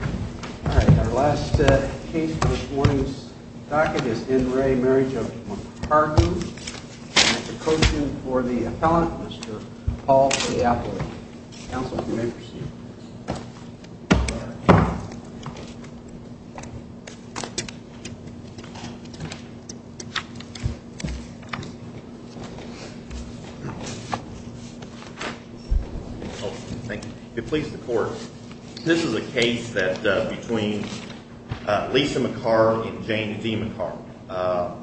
All right, our last case for this morning's docket is N. Ray Marriage of McHargue. And it's a code suit for the appellant, Mr. Paul Ciappoli. Counsel, if you may proceed. Thank you. If it pleases the court, this is a case that between Lisa McHargue and Jane D. McHargue.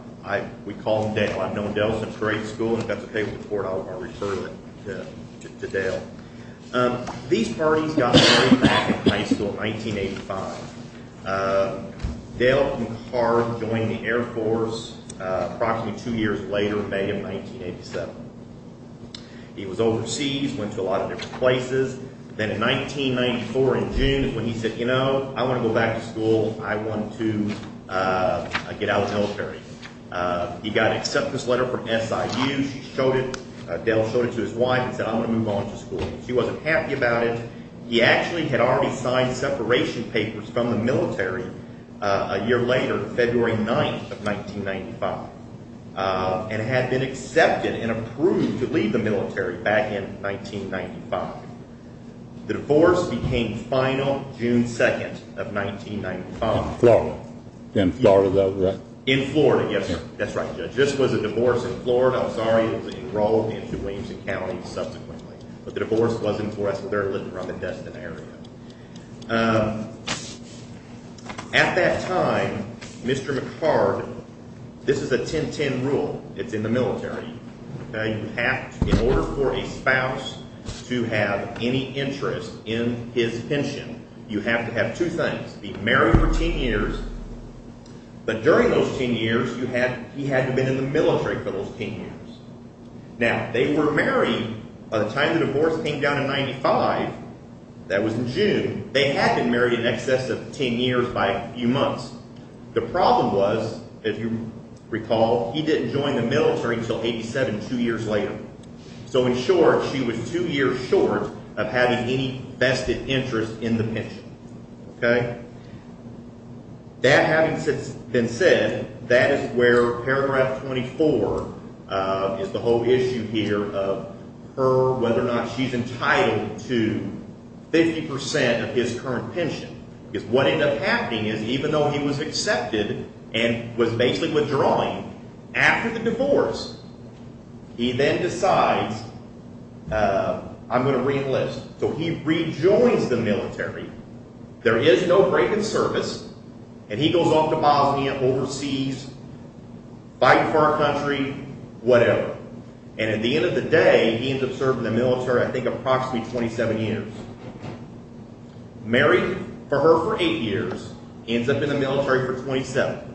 We call them Dale. I've known Dale since grade school, and if that's okay with the court, I'll refer it to Dale. These parties got married back in high school in 1985. Dale McHargue joined the Air Force approximately two years later in May of 1987. He was overseas, went to a lot of different places. Then in 1994, in June, when he said, you know, I want to go back to school. I want to get out of the military. He got an acceptance letter from SIU. She showed it. Dale showed it to his wife and said, I'm going to move on to school. She wasn't happy about it. He actually had already signed separation papers from the military a year later, February 9th of 1995, and had been accepted and approved to leave the military back in 1995. The divorce became final June 2nd of 1995. In Florida, right? In Florida, yes, sir. That's right, Judge. This was a divorce in Florida. I'm sorry it was enrolled into Williamson County subsequently, but the divorce wasn't for us. They were living around the Destin area. At that time, Mr. McHargue, this is a 10-10 rule. It's in the military. You have to, in order for a spouse to have any interest in his pension, you have to have two things. Be married for 10 years, but during those 10 years, he had to have been in the military for those 10 years. Now, they were married by the time the divorce came down in 1995. That was in June. They had been married in excess of 10 years by a few months. The problem was, if you recall, he didn't join the military until 87, two years later. In short, she was two years short of having any vested interest in the pension. That having been said, that is where paragraph 24 is the whole issue here of her, whether or not she's entitled to 50% of his current pension. What ended up happening is, even though he was accepted and was basically withdrawing, after the divorce, he then decides, I'm going to reenlist. He rejoins the military. There is no break in service. He goes off to Bosnia overseas, fighting for our country, whatever. At the end of the day, he ends up serving in the military, I think, approximately 27 years. Married for her for eight years, ends up in the military for 27.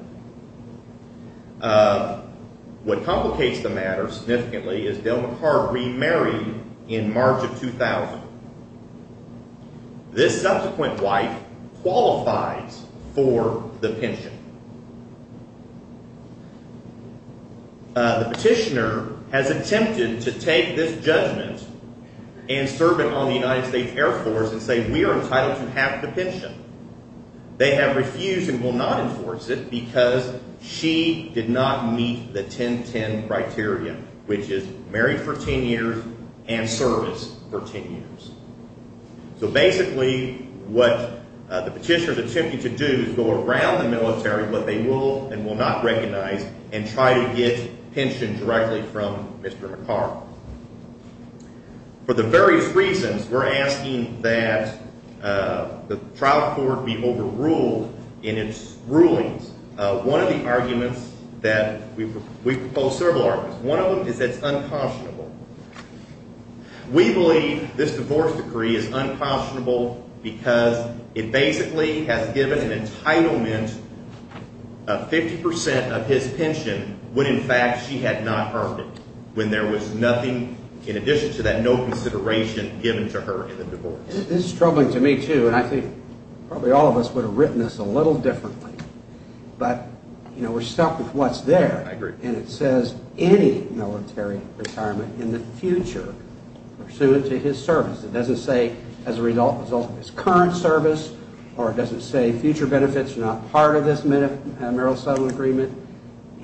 What complicates the matter significantly is Dale McCart remarried in March of 2000. This subsequent wife qualifies for the pension. The petitioner has attempted to take this judgment and serve it on the United States Air Force and say, we are entitled to half the pension. They have refused and will not enforce it because she did not meet the 10-10 criteria, which is married for 10 years and serviced for 10 years. So basically, what the petitioner is attempting to do is go around the military, what they will and will not recognize, and try to get pension directly from Mr. McCart. For the various reasons, we're asking that the trial court be overruled in its rulings. One of the arguments that we propose, we propose several arguments. One of them is that it's uncautionable. We believe this divorce decree is uncautionable because it basically has given an entitlement of 50% of his pension when, in fact, she had not earned it, when there was nothing in addition to that no consideration given to her in the divorce. This is troubling to me, too, and I think probably all of us would have written this a little differently. But we're stuck with what's there. I agree. And it says any military retirement in the future pursuant to his service. It doesn't say as a result of his current service, or it doesn't say future benefits are not part of this marital settlement agreement.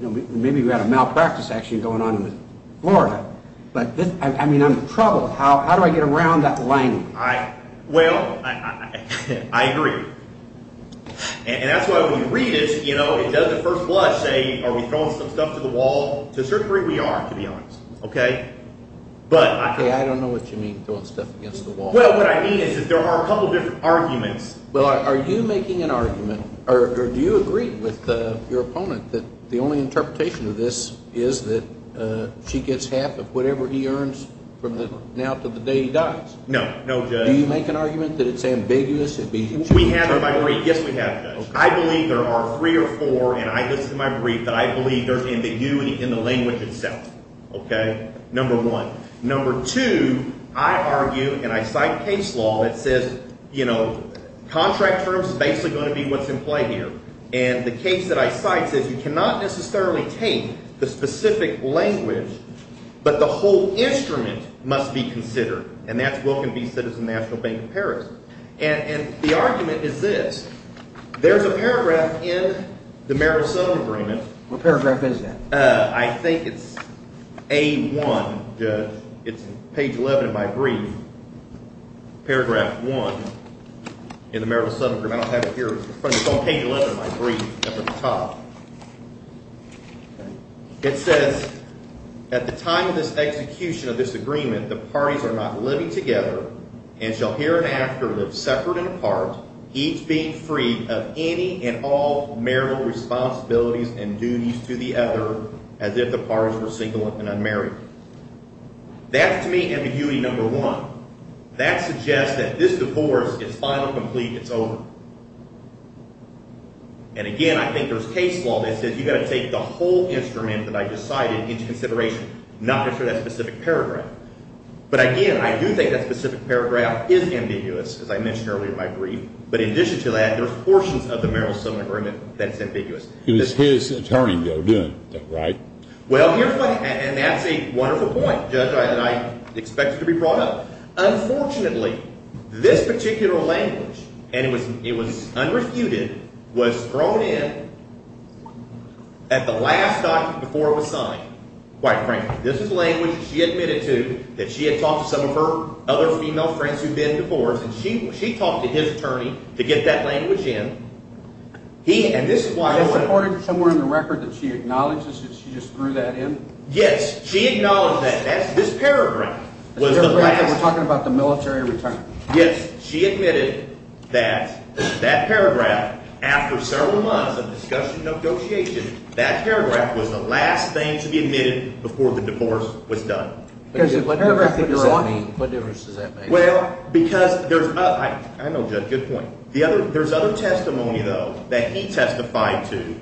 Maybe we had a malpractice action going on in Florida. But, I mean, I'm troubled. How do I get around that language? Well, I agree. And that's why when you read it, it doesn't first blush, say, are we throwing some stuff to the wall? To a certain degree we are, to be honest. Okay? Okay, I don't know what you mean, throwing stuff against the wall. Well, what I mean is that there are a couple different arguments. Well, are you making an argument, or do you agree with your opponent that the only interpretation of this is that she gets half of whatever he earns from now to the day he dies? No, no, Judge. Do you make an argument that it's ambiguous? Yes, we have, Judge. I believe there are three or four, and I listed them in my brief, that I believe there's ambiguity in the language itself. Okay? Number one. Number two, I argue, and I cite case law that says, you know, contract terms is basically going to be what's in play here. And the case that I cite says you cannot necessarily take the specific language, but the whole instrument must be considered. And the argument is this. There's a paragraph in the Merrill-Sutton agreement. What paragraph is that? I think it's A1, Judge. It's page 11 of my brief. Paragraph 1 in the Merrill-Sutton agreement. I don't have it here. It's on page 11 of my brief up at the top. It says, at the time of this execution of this agreement, the parties are not living together and shall hereafter live separate and apart, each being free of any and all marital responsibilities and duties to the other, as if the parties were single and unmarried. That's to me ambiguity number one. That suggests that this divorce is final, complete, it's over. And, again, I think there's case law that says you've got to take the whole instrument that I just cited into consideration, not necessarily that specific paragraph. But, again, I do think that specific paragraph is ambiguous, as I mentioned earlier in my brief. But in addition to that, there are portions of the Merrill-Sutton agreement that's ambiguous. It was his attorney, though, doing that, right? Well, and that's a wonderful point, Judge, that I expect to be brought up. Unfortunately, this particular language, and it was unrefuted, was thrown in at the last document before it was signed, quite frankly. This is language that she admitted to, that she had talked to some of her other female friends who'd been divorced, and she talked to his attorney to get that language in. And this is why I want to— Is there part of it somewhere in the record that she acknowledges that she just threw that in? Yes, she acknowledged that. This paragraph was the last— We're talking about the military return. Yes, she admitted that that paragraph, after several months of discussion and negotiation, that paragraph was the last thing to be admitted before the divorce was done. What difference does that make? Well, because there's—I know, Judge, good point. There's other testimony, though, that he testified to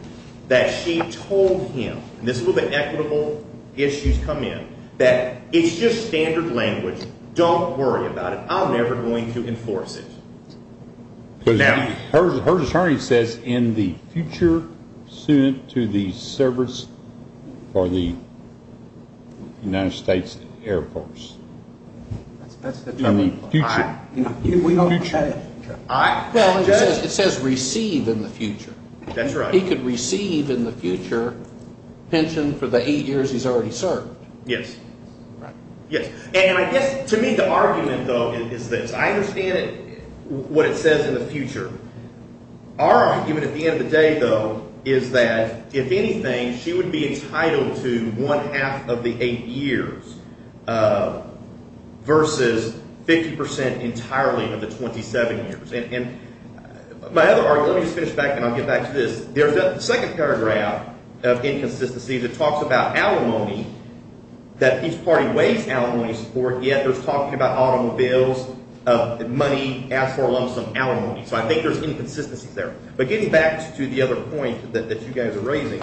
that she told him, and this is where the equitable issues come in, that it's just standard language. Don't worry about it. I'm never going to enforce it. Now— Her attorney says, in the future, soon to the service for the United States Air Force. That's the terminology. In the future. In the future. Well, it says receive in the future. That's right. He could receive in the future pension for the eight years he's already served. Yes. Right. Yes. And I guess, to me, the argument, though, is this. I understand what it says in the future. Our argument at the end of the day, though, is that, if anything, she would be entitled to one-half of the eight years versus 50 percent entirely of the 27 years. My other argument—let me just finish back, and I'll get back to this. There's a second paragraph of inconsistencies. It talks about alimony, that each party waives alimony support, yet it's talking about automobiles, money asked for alongside alimony. So I think there's inconsistencies there. But getting back to the other point that you guys are raising,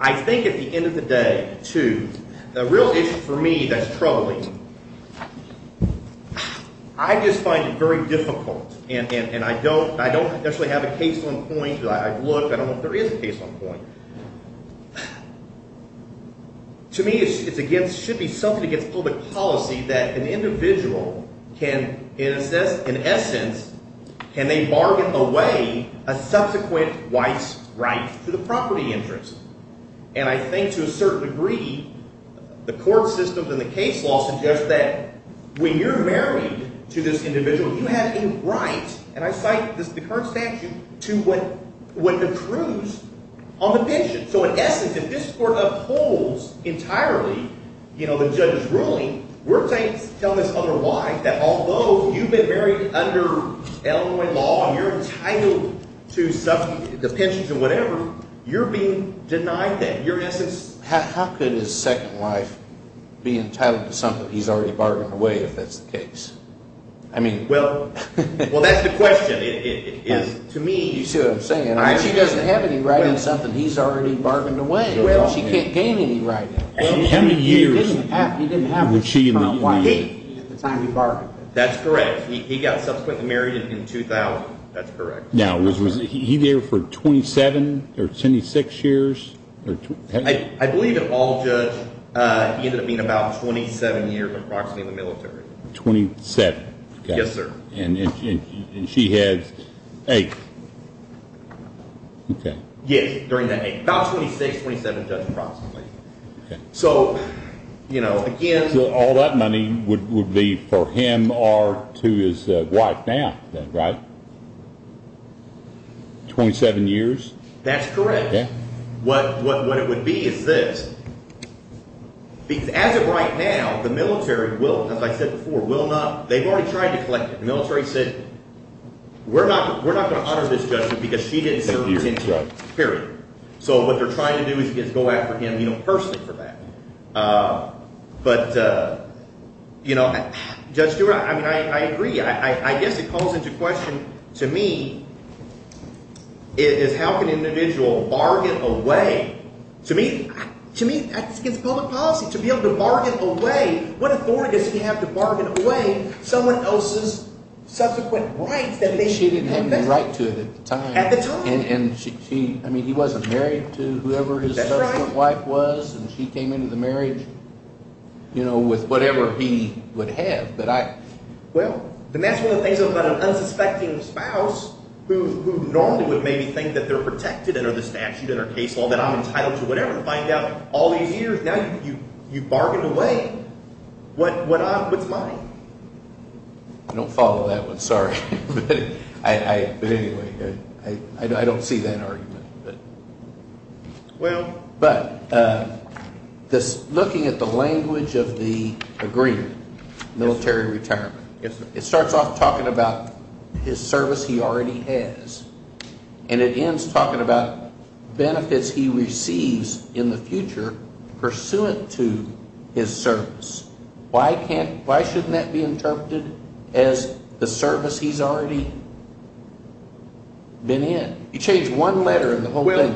I think at the end of the day, too, the real issue for me that's troubling— I just find it very difficult, and I don't necessarily have a case on point. I've looked. I don't know if there is a case on point. To me, it should be something against public policy that an individual can, in essence, can they bargain away a subsequent wife's right to the property interest. And I think, to a certain degree, the court system and the case law suggest that when you're married to this individual, you have a right—and I cite the current statute—to what the cruise on the pension. So in essence, if this court upholds entirely the judge's ruling, we're telling this other wife that although you've been married under Illinois law and you're entitled to the pensions and whatever, you're being denied that. In essence— How could his second wife be entitled to something he's already bargained away if that's the case? I mean— Well, that's the question. You see what I'm saying? If she doesn't have any right on something he's already bargained away, she can't gain any right. How many years— He didn't have a second wife at the time he bargained. That's correct. He got subsequently married in 2000. That's correct. Now, was he there for 27 or 26 years? I believe in all, Judge, he ended up being about 27 years, approximately, in the military. Twenty-seven. Yes, sir. And she had eight. Yes, during that eight. About 26, 27, Judge, approximately. So, you know, again— So all that money would be for him or to his wife now, then, right? Twenty-seven years? That's correct. Okay. What it would be is this. As of right now, the military will, as I said before, will not—they've already tried to collect it. The military said we're not going to honor this judgment because she didn't serve ten years, period. So what they're trying to do is go after him personally for that. But, you know, Judge Stewart, I mean, I agree. I guess it calls into question, to me, is how can an individual bargain away—to me, that's against public policy. To be able to bargain away—what authority does he have to bargain away someone else's subsequent rights that they— She didn't have any right to it at the time. At the time. And she—I mean, he wasn't married to whoever his subsequent wife was, and she came into the marriage, you know, with whatever he would have. Well, then that's one of the things about an unsuspecting spouse who normally would maybe think that they're protected under the statute and their case law, that I'm entitled to whatever, to find out all these years. Now you've bargained away. What's mine? I don't follow that one, sorry. But anyway, I don't see that argument. Well— But looking at the language of the agreement, military retirement, it starts off talking about his service he already has, and it ends talking about benefits he receives in the future pursuant to his service. Why can't—why shouldn't that be interpreted as the service he's already been in? You change one letter in the whole thing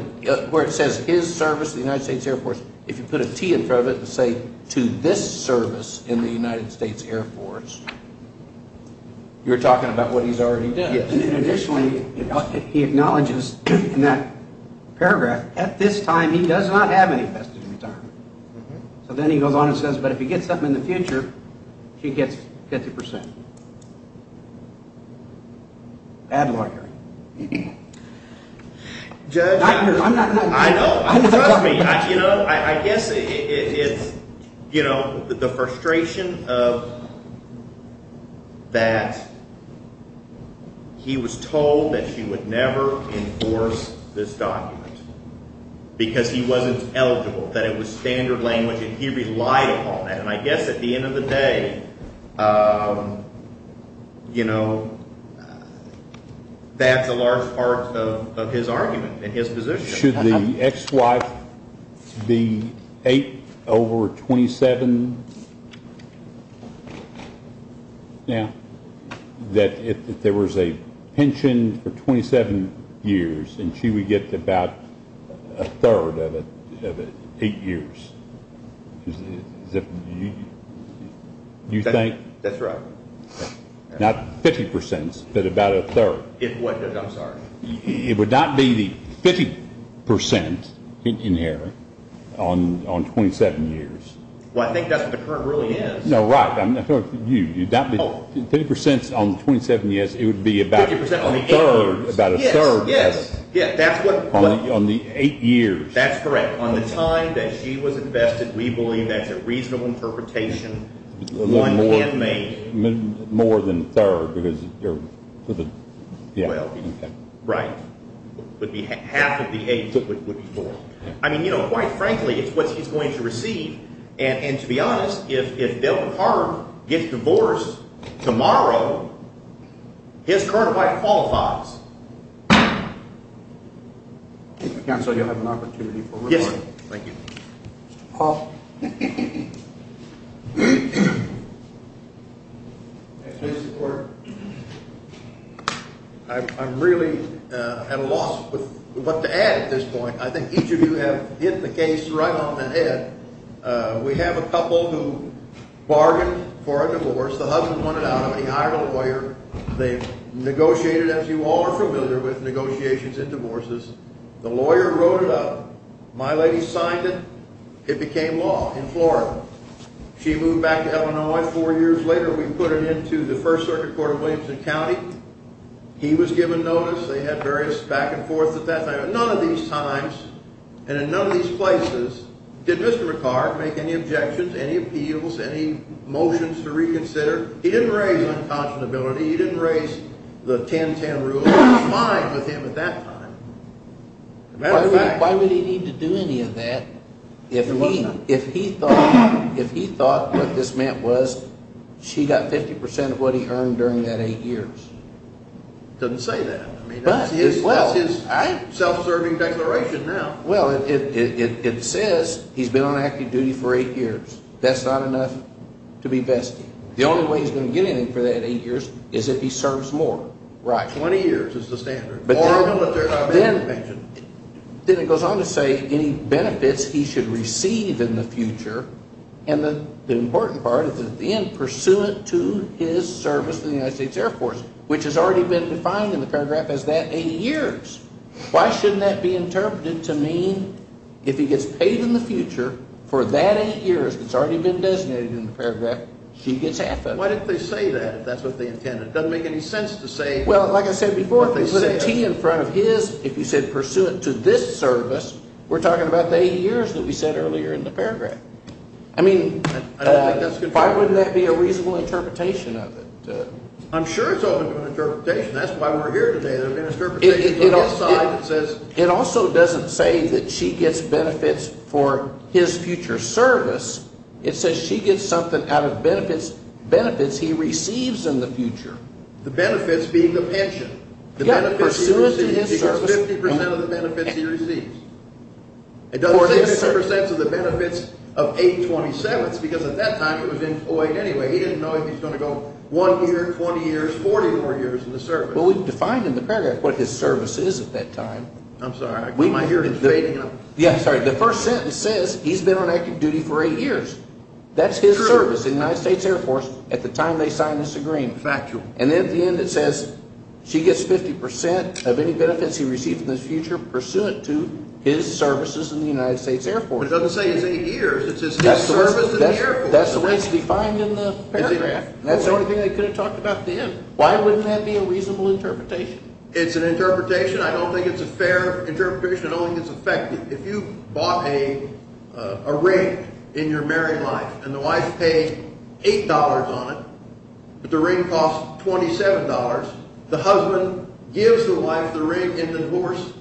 where it says his service to the United States Air Force. If you put a T in front of it and say, to this service in the United States Air Force, you're talking about what he's already done. And additionally, he acknowledges in that paragraph, at this time he does not have any vested in retirement. So then he goes on and says, but if he gets something in the future, he gets 50%. Ad Library. Judge— I'm not an ad librarian. I know. Trust me. I guess it's the frustration of that he was told that she would never enforce this document because he wasn't eligible. That it was standard language, and he relied upon it. And I guess at the end of the day, you know, that's a large part of his argument and his position. Should the ex-wife be eight over 27 now? That if there was a pension for 27 years and she would get about a third of it in eight years. Do you think? That's right. Not 50%, but about a third. I'm sorry. It would not be the 50% in here on 27 years. Well, I think that's what the current ruling is. No, right. 50% on 27 years, it would be about a third. Yes, yes. On the eight years. That's correct. On the time that she was invested, we believe that's a reasonable interpretation. More than a third. Right. Half of the age would be four. I mean, you know, quite frankly, it's what he's going to receive. And to be honest, if Bill Carter gets divorced tomorrow, his current wife qualifies. Counsel, you'll have an opportunity for a report. Yes, sir. Thank you. Mr. Paul. I'm really at a loss with what to add at this point. I think each of you have hit the case right on the head. We have a couple who bargained for a divorce. The husband wanted out of it. He hired a lawyer. They negotiated, as you all are familiar with negotiations in divorces. The lawyer wrote it up. My lady signed it. It became law in Florida. She moved back to Illinois. Four years later, we put it into the First Circuit Court of Williamson County. He was given notice. They had various back and forth at that time. None of these times and in none of these places did Mr. McCart make any objections, any appeals, any motions to reconsider. He didn't raise unconscionability. He didn't raise the 10-10 rule. It was fine with him at that time. Why would he need to do any of that if he thought what this meant was she got 50 percent of what he earned during that eight years? He doesn't say that. That's his self-serving declaration now. Well, it says he's been on active duty for eight years. That's not enough to be vested. The only way he's going to get anything for that eight years is if he serves more. Right. Twenty years is the standard. Then it goes on to say any benefits he should receive in the future. And the important part is at the end, pursuant to his service to the United States Air Force, which has already been defined in the paragraph as that eight years. Why shouldn't that be interpreted to mean if he gets paid in the future for that eight years that's already been designated in the paragraph, she gets half of it? Why didn't they say that if that's what they intended? It doesn't make any sense to say what they said. Well, like I said before, if you put a T in front of his, if you said pursuant to this service, we're talking about the eight years that we said earlier in the paragraph. I mean, why wouldn't that be a reasonable interpretation of it? I'm sure it's open to interpretation. That's why we're here today. There have been interpretations on his side that says. It also doesn't say that she gets benefits for his future service. It says she gets something out of benefits he receives in the future. The benefits being the pension. Yeah, pursuant to his service. He gets 50 percent of the benefits he receives. It doesn't say 50 percent of the benefits of 827th because at that time it was employed anyway. He didn't know if he was going to go one year, 20 years, 40 more years in the service. Well, we've defined in the paragraph what his service is at that time. I'm sorry. Am I hearing it fading? Yeah, I'm sorry. The first sentence says he's been on active duty for eight years. That's his service in the United States Air Force at the time they signed this agreement. Factual. And at the end it says she gets 50 percent of any benefits he receives in the future pursuant to his services in the United States Air Force. It doesn't say his eight years. It says his service in the Air Force. That's the way it's defined in the paragraph. That's the only thing they could have talked about then. Why wouldn't that be a reasonable interpretation? It's an interpretation. I don't think it's a fair interpretation. I don't think it's effective. If you bought a ring in your married life and the wife paid $8 on it but the ring cost $27, the husband gives the wife the ring in the divorce,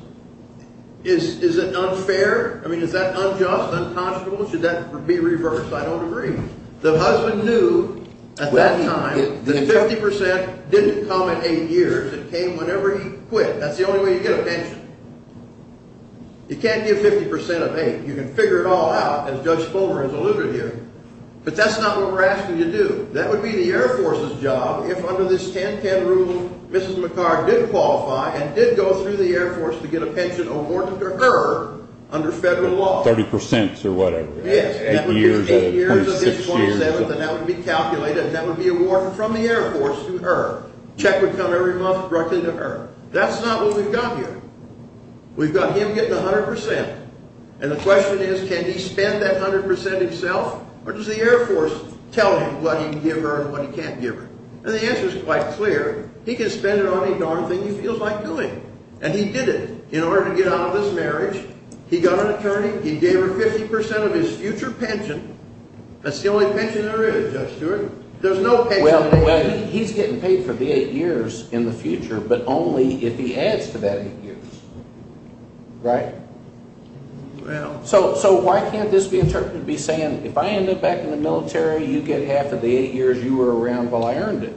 is it unfair? I mean is that unjust, unconscionable? Should that be reversed? I don't agree. The husband knew at that time that 50 percent didn't come at eight years. It came whenever he quit. That's the only way you get a pension. You can't give 50 percent of eight. You can figure it all out, as Judge Fulmer has alluded to. But that's not what we're asking you to do. That would be the Air Force's job if under this 10-10 rule Mrs. McHarg did qualify and did go through the Air Force to get a pension awarded to her under federal law. 30 percent or whatever. Yes. Eight years, 26 years. And that would be calculated and that would be awarded from the Air Force to her. Check would come every month directly to her. That's not what we've got here. We've got him getting 100 percent. And the question is can he spend that 100 percent himself or does the Air Force tell him what he can give her and what he can't give her? And the answer is quite clear. He can spend it on any darn thing he feels like doing. And he did it in order to get out of this marriage. He got an attorney. He gave her 50 percent of his future pension. That's the only pension there is, Judge Stewart. There's no pension. He's getting paid for the eight years in the future but only if he adds to that eight years. Right? So why can't this be interpreted to be saying if I end up back in the military, you get half of the eight years you were around while I earned it?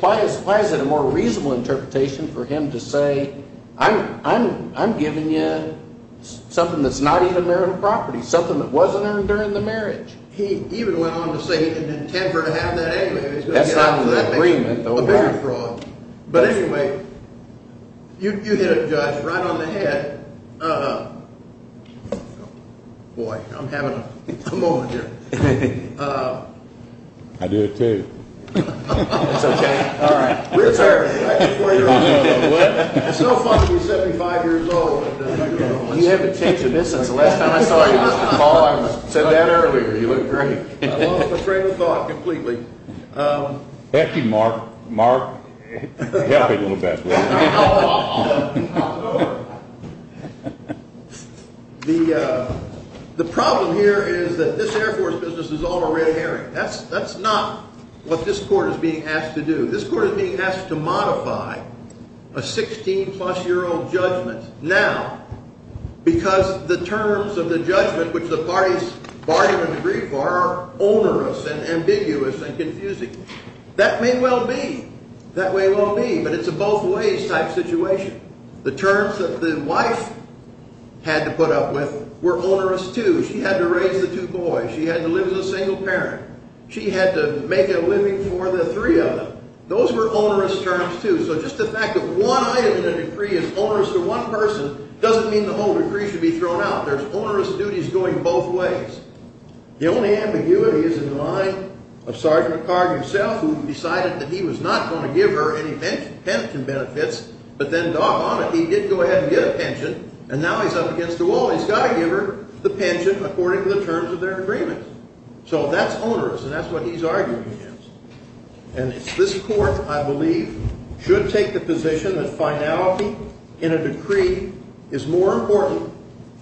Why is it a more reasonable interpretation for him to say I'm giving you something that's not even marital property, something that wasn't earned during the marriage? He even went on to say he didn't intend for her to have that anyway. That's not an agreement, though. But anyway, you hit it, Judge, right on the head. Boy, I'm having a moment here. I did, too. It's okay. All right. We're serving. It's no fun to be 75 years old. You haven't changed a bit since the last time I saw you. Paul, I said that earlier. You look great. I lost my train of thought completely. Thank you, Mark. Mark, help me a little bit. I'll offer. I'll offer. The problem here is that this Air Force business is all a red herring. That's not what this court is being asked to do. This court is being asked to modify a 16-plus-year-old judgment now because the terms of the judgment, which the parties bargain and agree for, are onerous and ambiguous and confusing. That may well be. That may well be, but it's a both-ways type situation. The terms that the wife had to put up with were onerous, too. She had to raise the two boys. She had to live as a single parent. She had to make a living for the three of them. Those were onerous terms, too. So just the fact that one item in a decree is onerous to one person doesn't mean the whole decree should be thrown out. There's onerous duties going both ways. The only ambiguity is in the mind of Sergeant McHarg himself, who decided that he was not going to give her any pension benefits, but then, doggone it, he did go ahead and get a pension, and now he's up against the wall. He's got to give her the pension according to the terms of their agreement. So that's onerous, and that's what he's arguing against. And this court, I believe, should take the position that finality in a decree is more important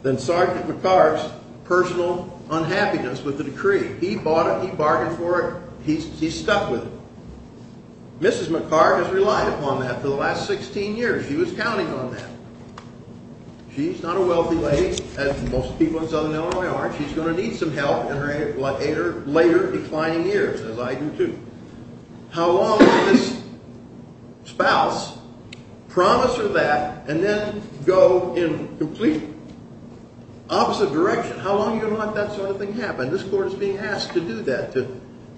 than Sergeant McHarg's personal unhappiness with the decree. He bought it. He bargained for it. He stuck with it. Mrs. McHarg has relied upon that for the last 16 years. She was counting on that. She's not a wealthy lady, as most people in Southern Illinois are. She's going to need some help in her later declining years, as I do, too. How long will this spouse promise her that and then go in the complete opposite direction? How long are you going to let that sort of thing happen? This court is being asked to do that.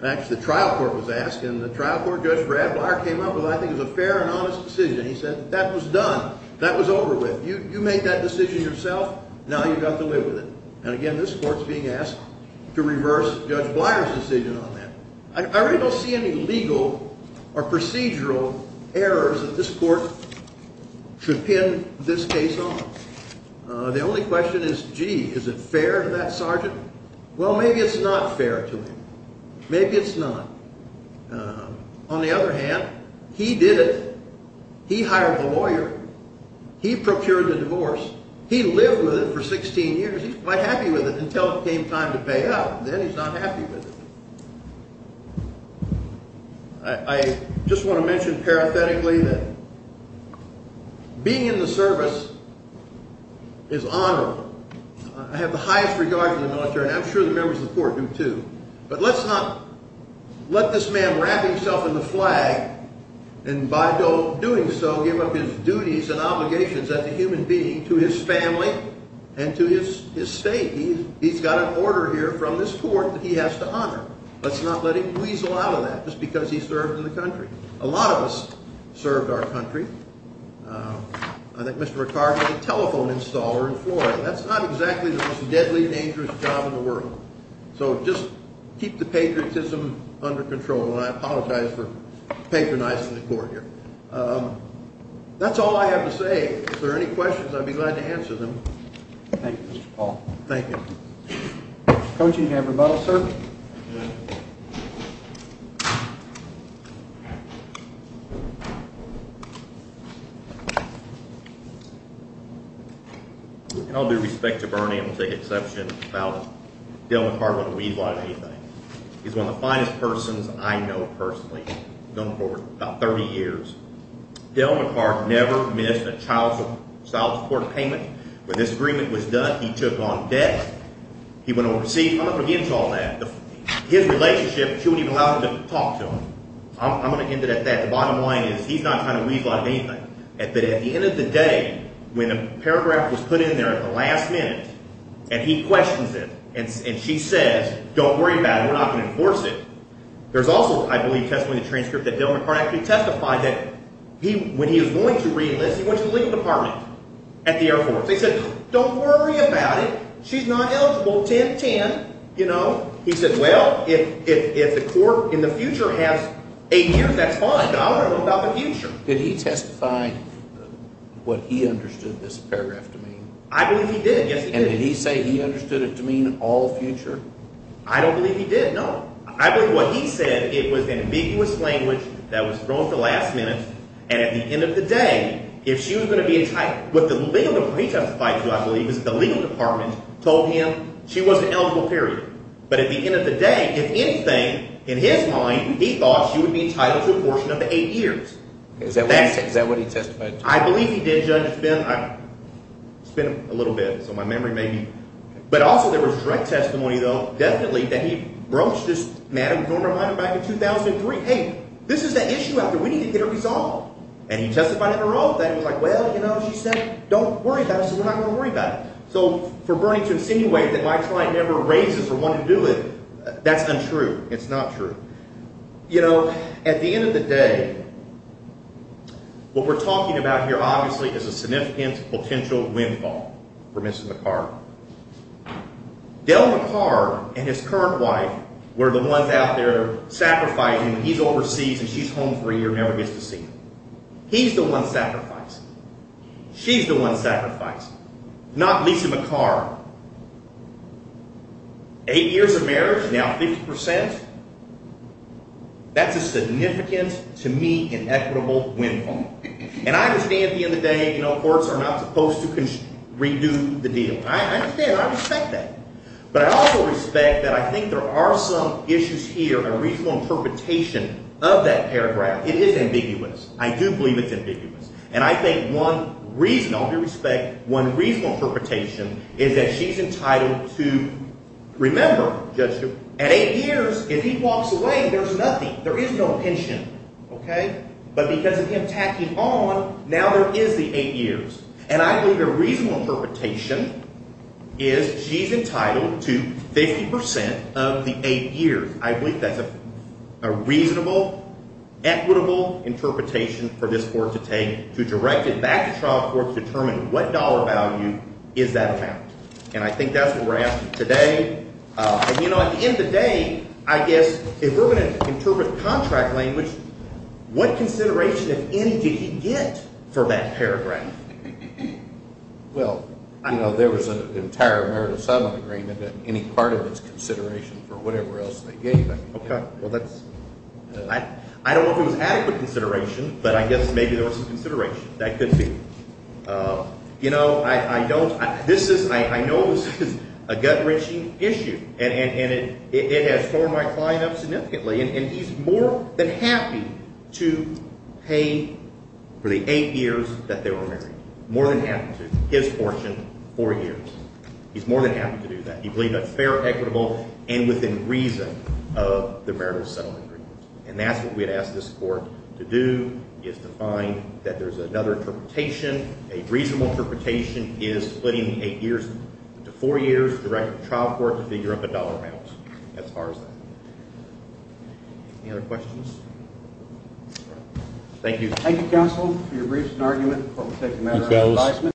Actually, the trial court was asked, and the trial court judge Brad Beier came up with what I think is a fair and honest decision. He said that was done. That was over with. You made that decision yourself. Now you've got to live with it. And, again, this court is being asked to reverse Judge Bleier's decision on that. I really don't see any legal or procedural errors that this court should pin this case on. The only question is, gee, is it fair to that sergeant? Well, maybe it's not fair to him. Maybe it's not. On the other hand, he did it. He hired the lawyer. He procured the divorce. He lived with it for 16 years. He was quite happy with it until it came time to pay up. Then he's not happy with it. I just want to mention parathetically that being in the service is honorable. I have the highest regard for the military, and I'm sure the members of the court do too. But let's not let this man wrap himself in the flag and, by doing so, give up his duties and obligations as a human being to his family and to his state. He's got an order here from this court that he has to honor. Let's not let him weasel out of that just because he served in the country. A lot of us served our country. I think Mr. McCarty had a telephone installer in Florida. That's not exactly the most deadly and dangerous job in the world. So just keep the patriotism under control, and I apologize for patronizing the court here. That's all I have to say. If there are any questions, I'd be glad to answer them. Thank you, Mr. Paul. Thank you. Coach, do you have your ballot, sir? Good. With all due respect to Bernie, I'm going to take exception about him. Dale McCarty wouldn't weasel out of anything. He's one of the finest persons I know personally. I've known him for about 30 years. Dale McCarty never missed a child support payment. When this agreement was done, he took on debt. See, I'm not going to give him all that. His relationship, she wouldn't even allow him to talk to him. I'm going to end it at that. The bottom line is he's not trying to weasel out of anything. At the end of the day, when a paragraph was put in there at the last minute, and he questions it, and she says, don't worry about it, we're not going to enforce it, there's also, I believe, testimony in the transcript that Dale McCarty actually testified that when he was going to read this, he went to the legal department at the Air Force. He said, don't worry about it, she's not eligible, 10-10, you know. He said, well, if the court in the future has eight years, that's fine. I don't know about the future. Did he testify what he understood this paragraph to mean? I believe he did, yes, he did. And did he say he understood it to mean all future? I don't believe he did, no. I believe what he said, it was an ambiguous language that was thrown at the last minute, and at the end of the day, if she was going to be entitled, what the legal department testified to, I believe, is the legal department told him she wasn't eligible, period. But at the end of the day, if anything, in his mind, he thought she would be entitled to a portion of the eight years. Is that what he testified to? I believe he did, Judge. It's been a little bit, so my memory may be. But also there was direct testimony, though, definitely, that he broached this matter with Norma Hyman back in 2003. Hey, this is the issue out there. We need to get it resolved. And he testified in a row that it was like, well, you know, she said, don't worry about it, so we're not going to worry about it. So for Bernie to insinuate that my client never raises or wanted to do it, that's untrue. It's not true. You know, at the end of the day, what we're talking about here, obviously, is a significant potential windfall for Mr. McCard. Del McCard and his current wife were the ones out there sacrificing. He's overseas and she's home for a year and never gets to see him. He's the one sacrificing. She's the one sacrificing, not Lisa McCard. Eight years of marriage, now 50%. That's a significant, to me, inequitable windfall. And I understand at the end of the day, you know, courts are not supposed to redo the deal. I understand that. I respect that. But I also respect that I think there are some issues here, a reasonable interpretation of that paragraph. It is ambiguous. I do believe it's ambiguous. And I think one reasonable, with respect, one reasonable interpretation is that she's entitled to, remember, Judge, at eight years, if he walks away, there's nothing. There is no pension. Okay? But because of him tacking on, now there is the eight years. And I believe a reasonable interpretation is she's entitled to 50% of the eight years. I believe that's a reasonable, equitable interpretation for this court to take, to direct it back to trial court to determine what dollar value is that amount. And I think that's what we're asking today. And, you know, at the end of the day, I guess if we're going to interpret contract language, what consideration, if any, did he get for that paragraph? Well, you know, there was an entire merit and settlement agreement that any part of it is consideration for whatever else they gave him. Okay. Well, that's ñ I don't know if it was adequate consideration, but I guess maybe there was some consideration. That could be. You know, I don't ñ this is ñ I know this is a gut-wrenching issue. And it has torn my client up significantly. And he's more than happy to pay for the eight years that they were married. More than happy to. His fortune, four years. He's more than happy to do that. He believed that's fair, equitable, and within reason of the merit and settlement agreement. And that's what we had asked this court to do, is to find that there's another interpretation, a reasonable interpretation is splitting the eight years into four years, to figure up a dollar amount as far as that. Any other questions? Thank you. Thank you, counsel, for your briefs and argument.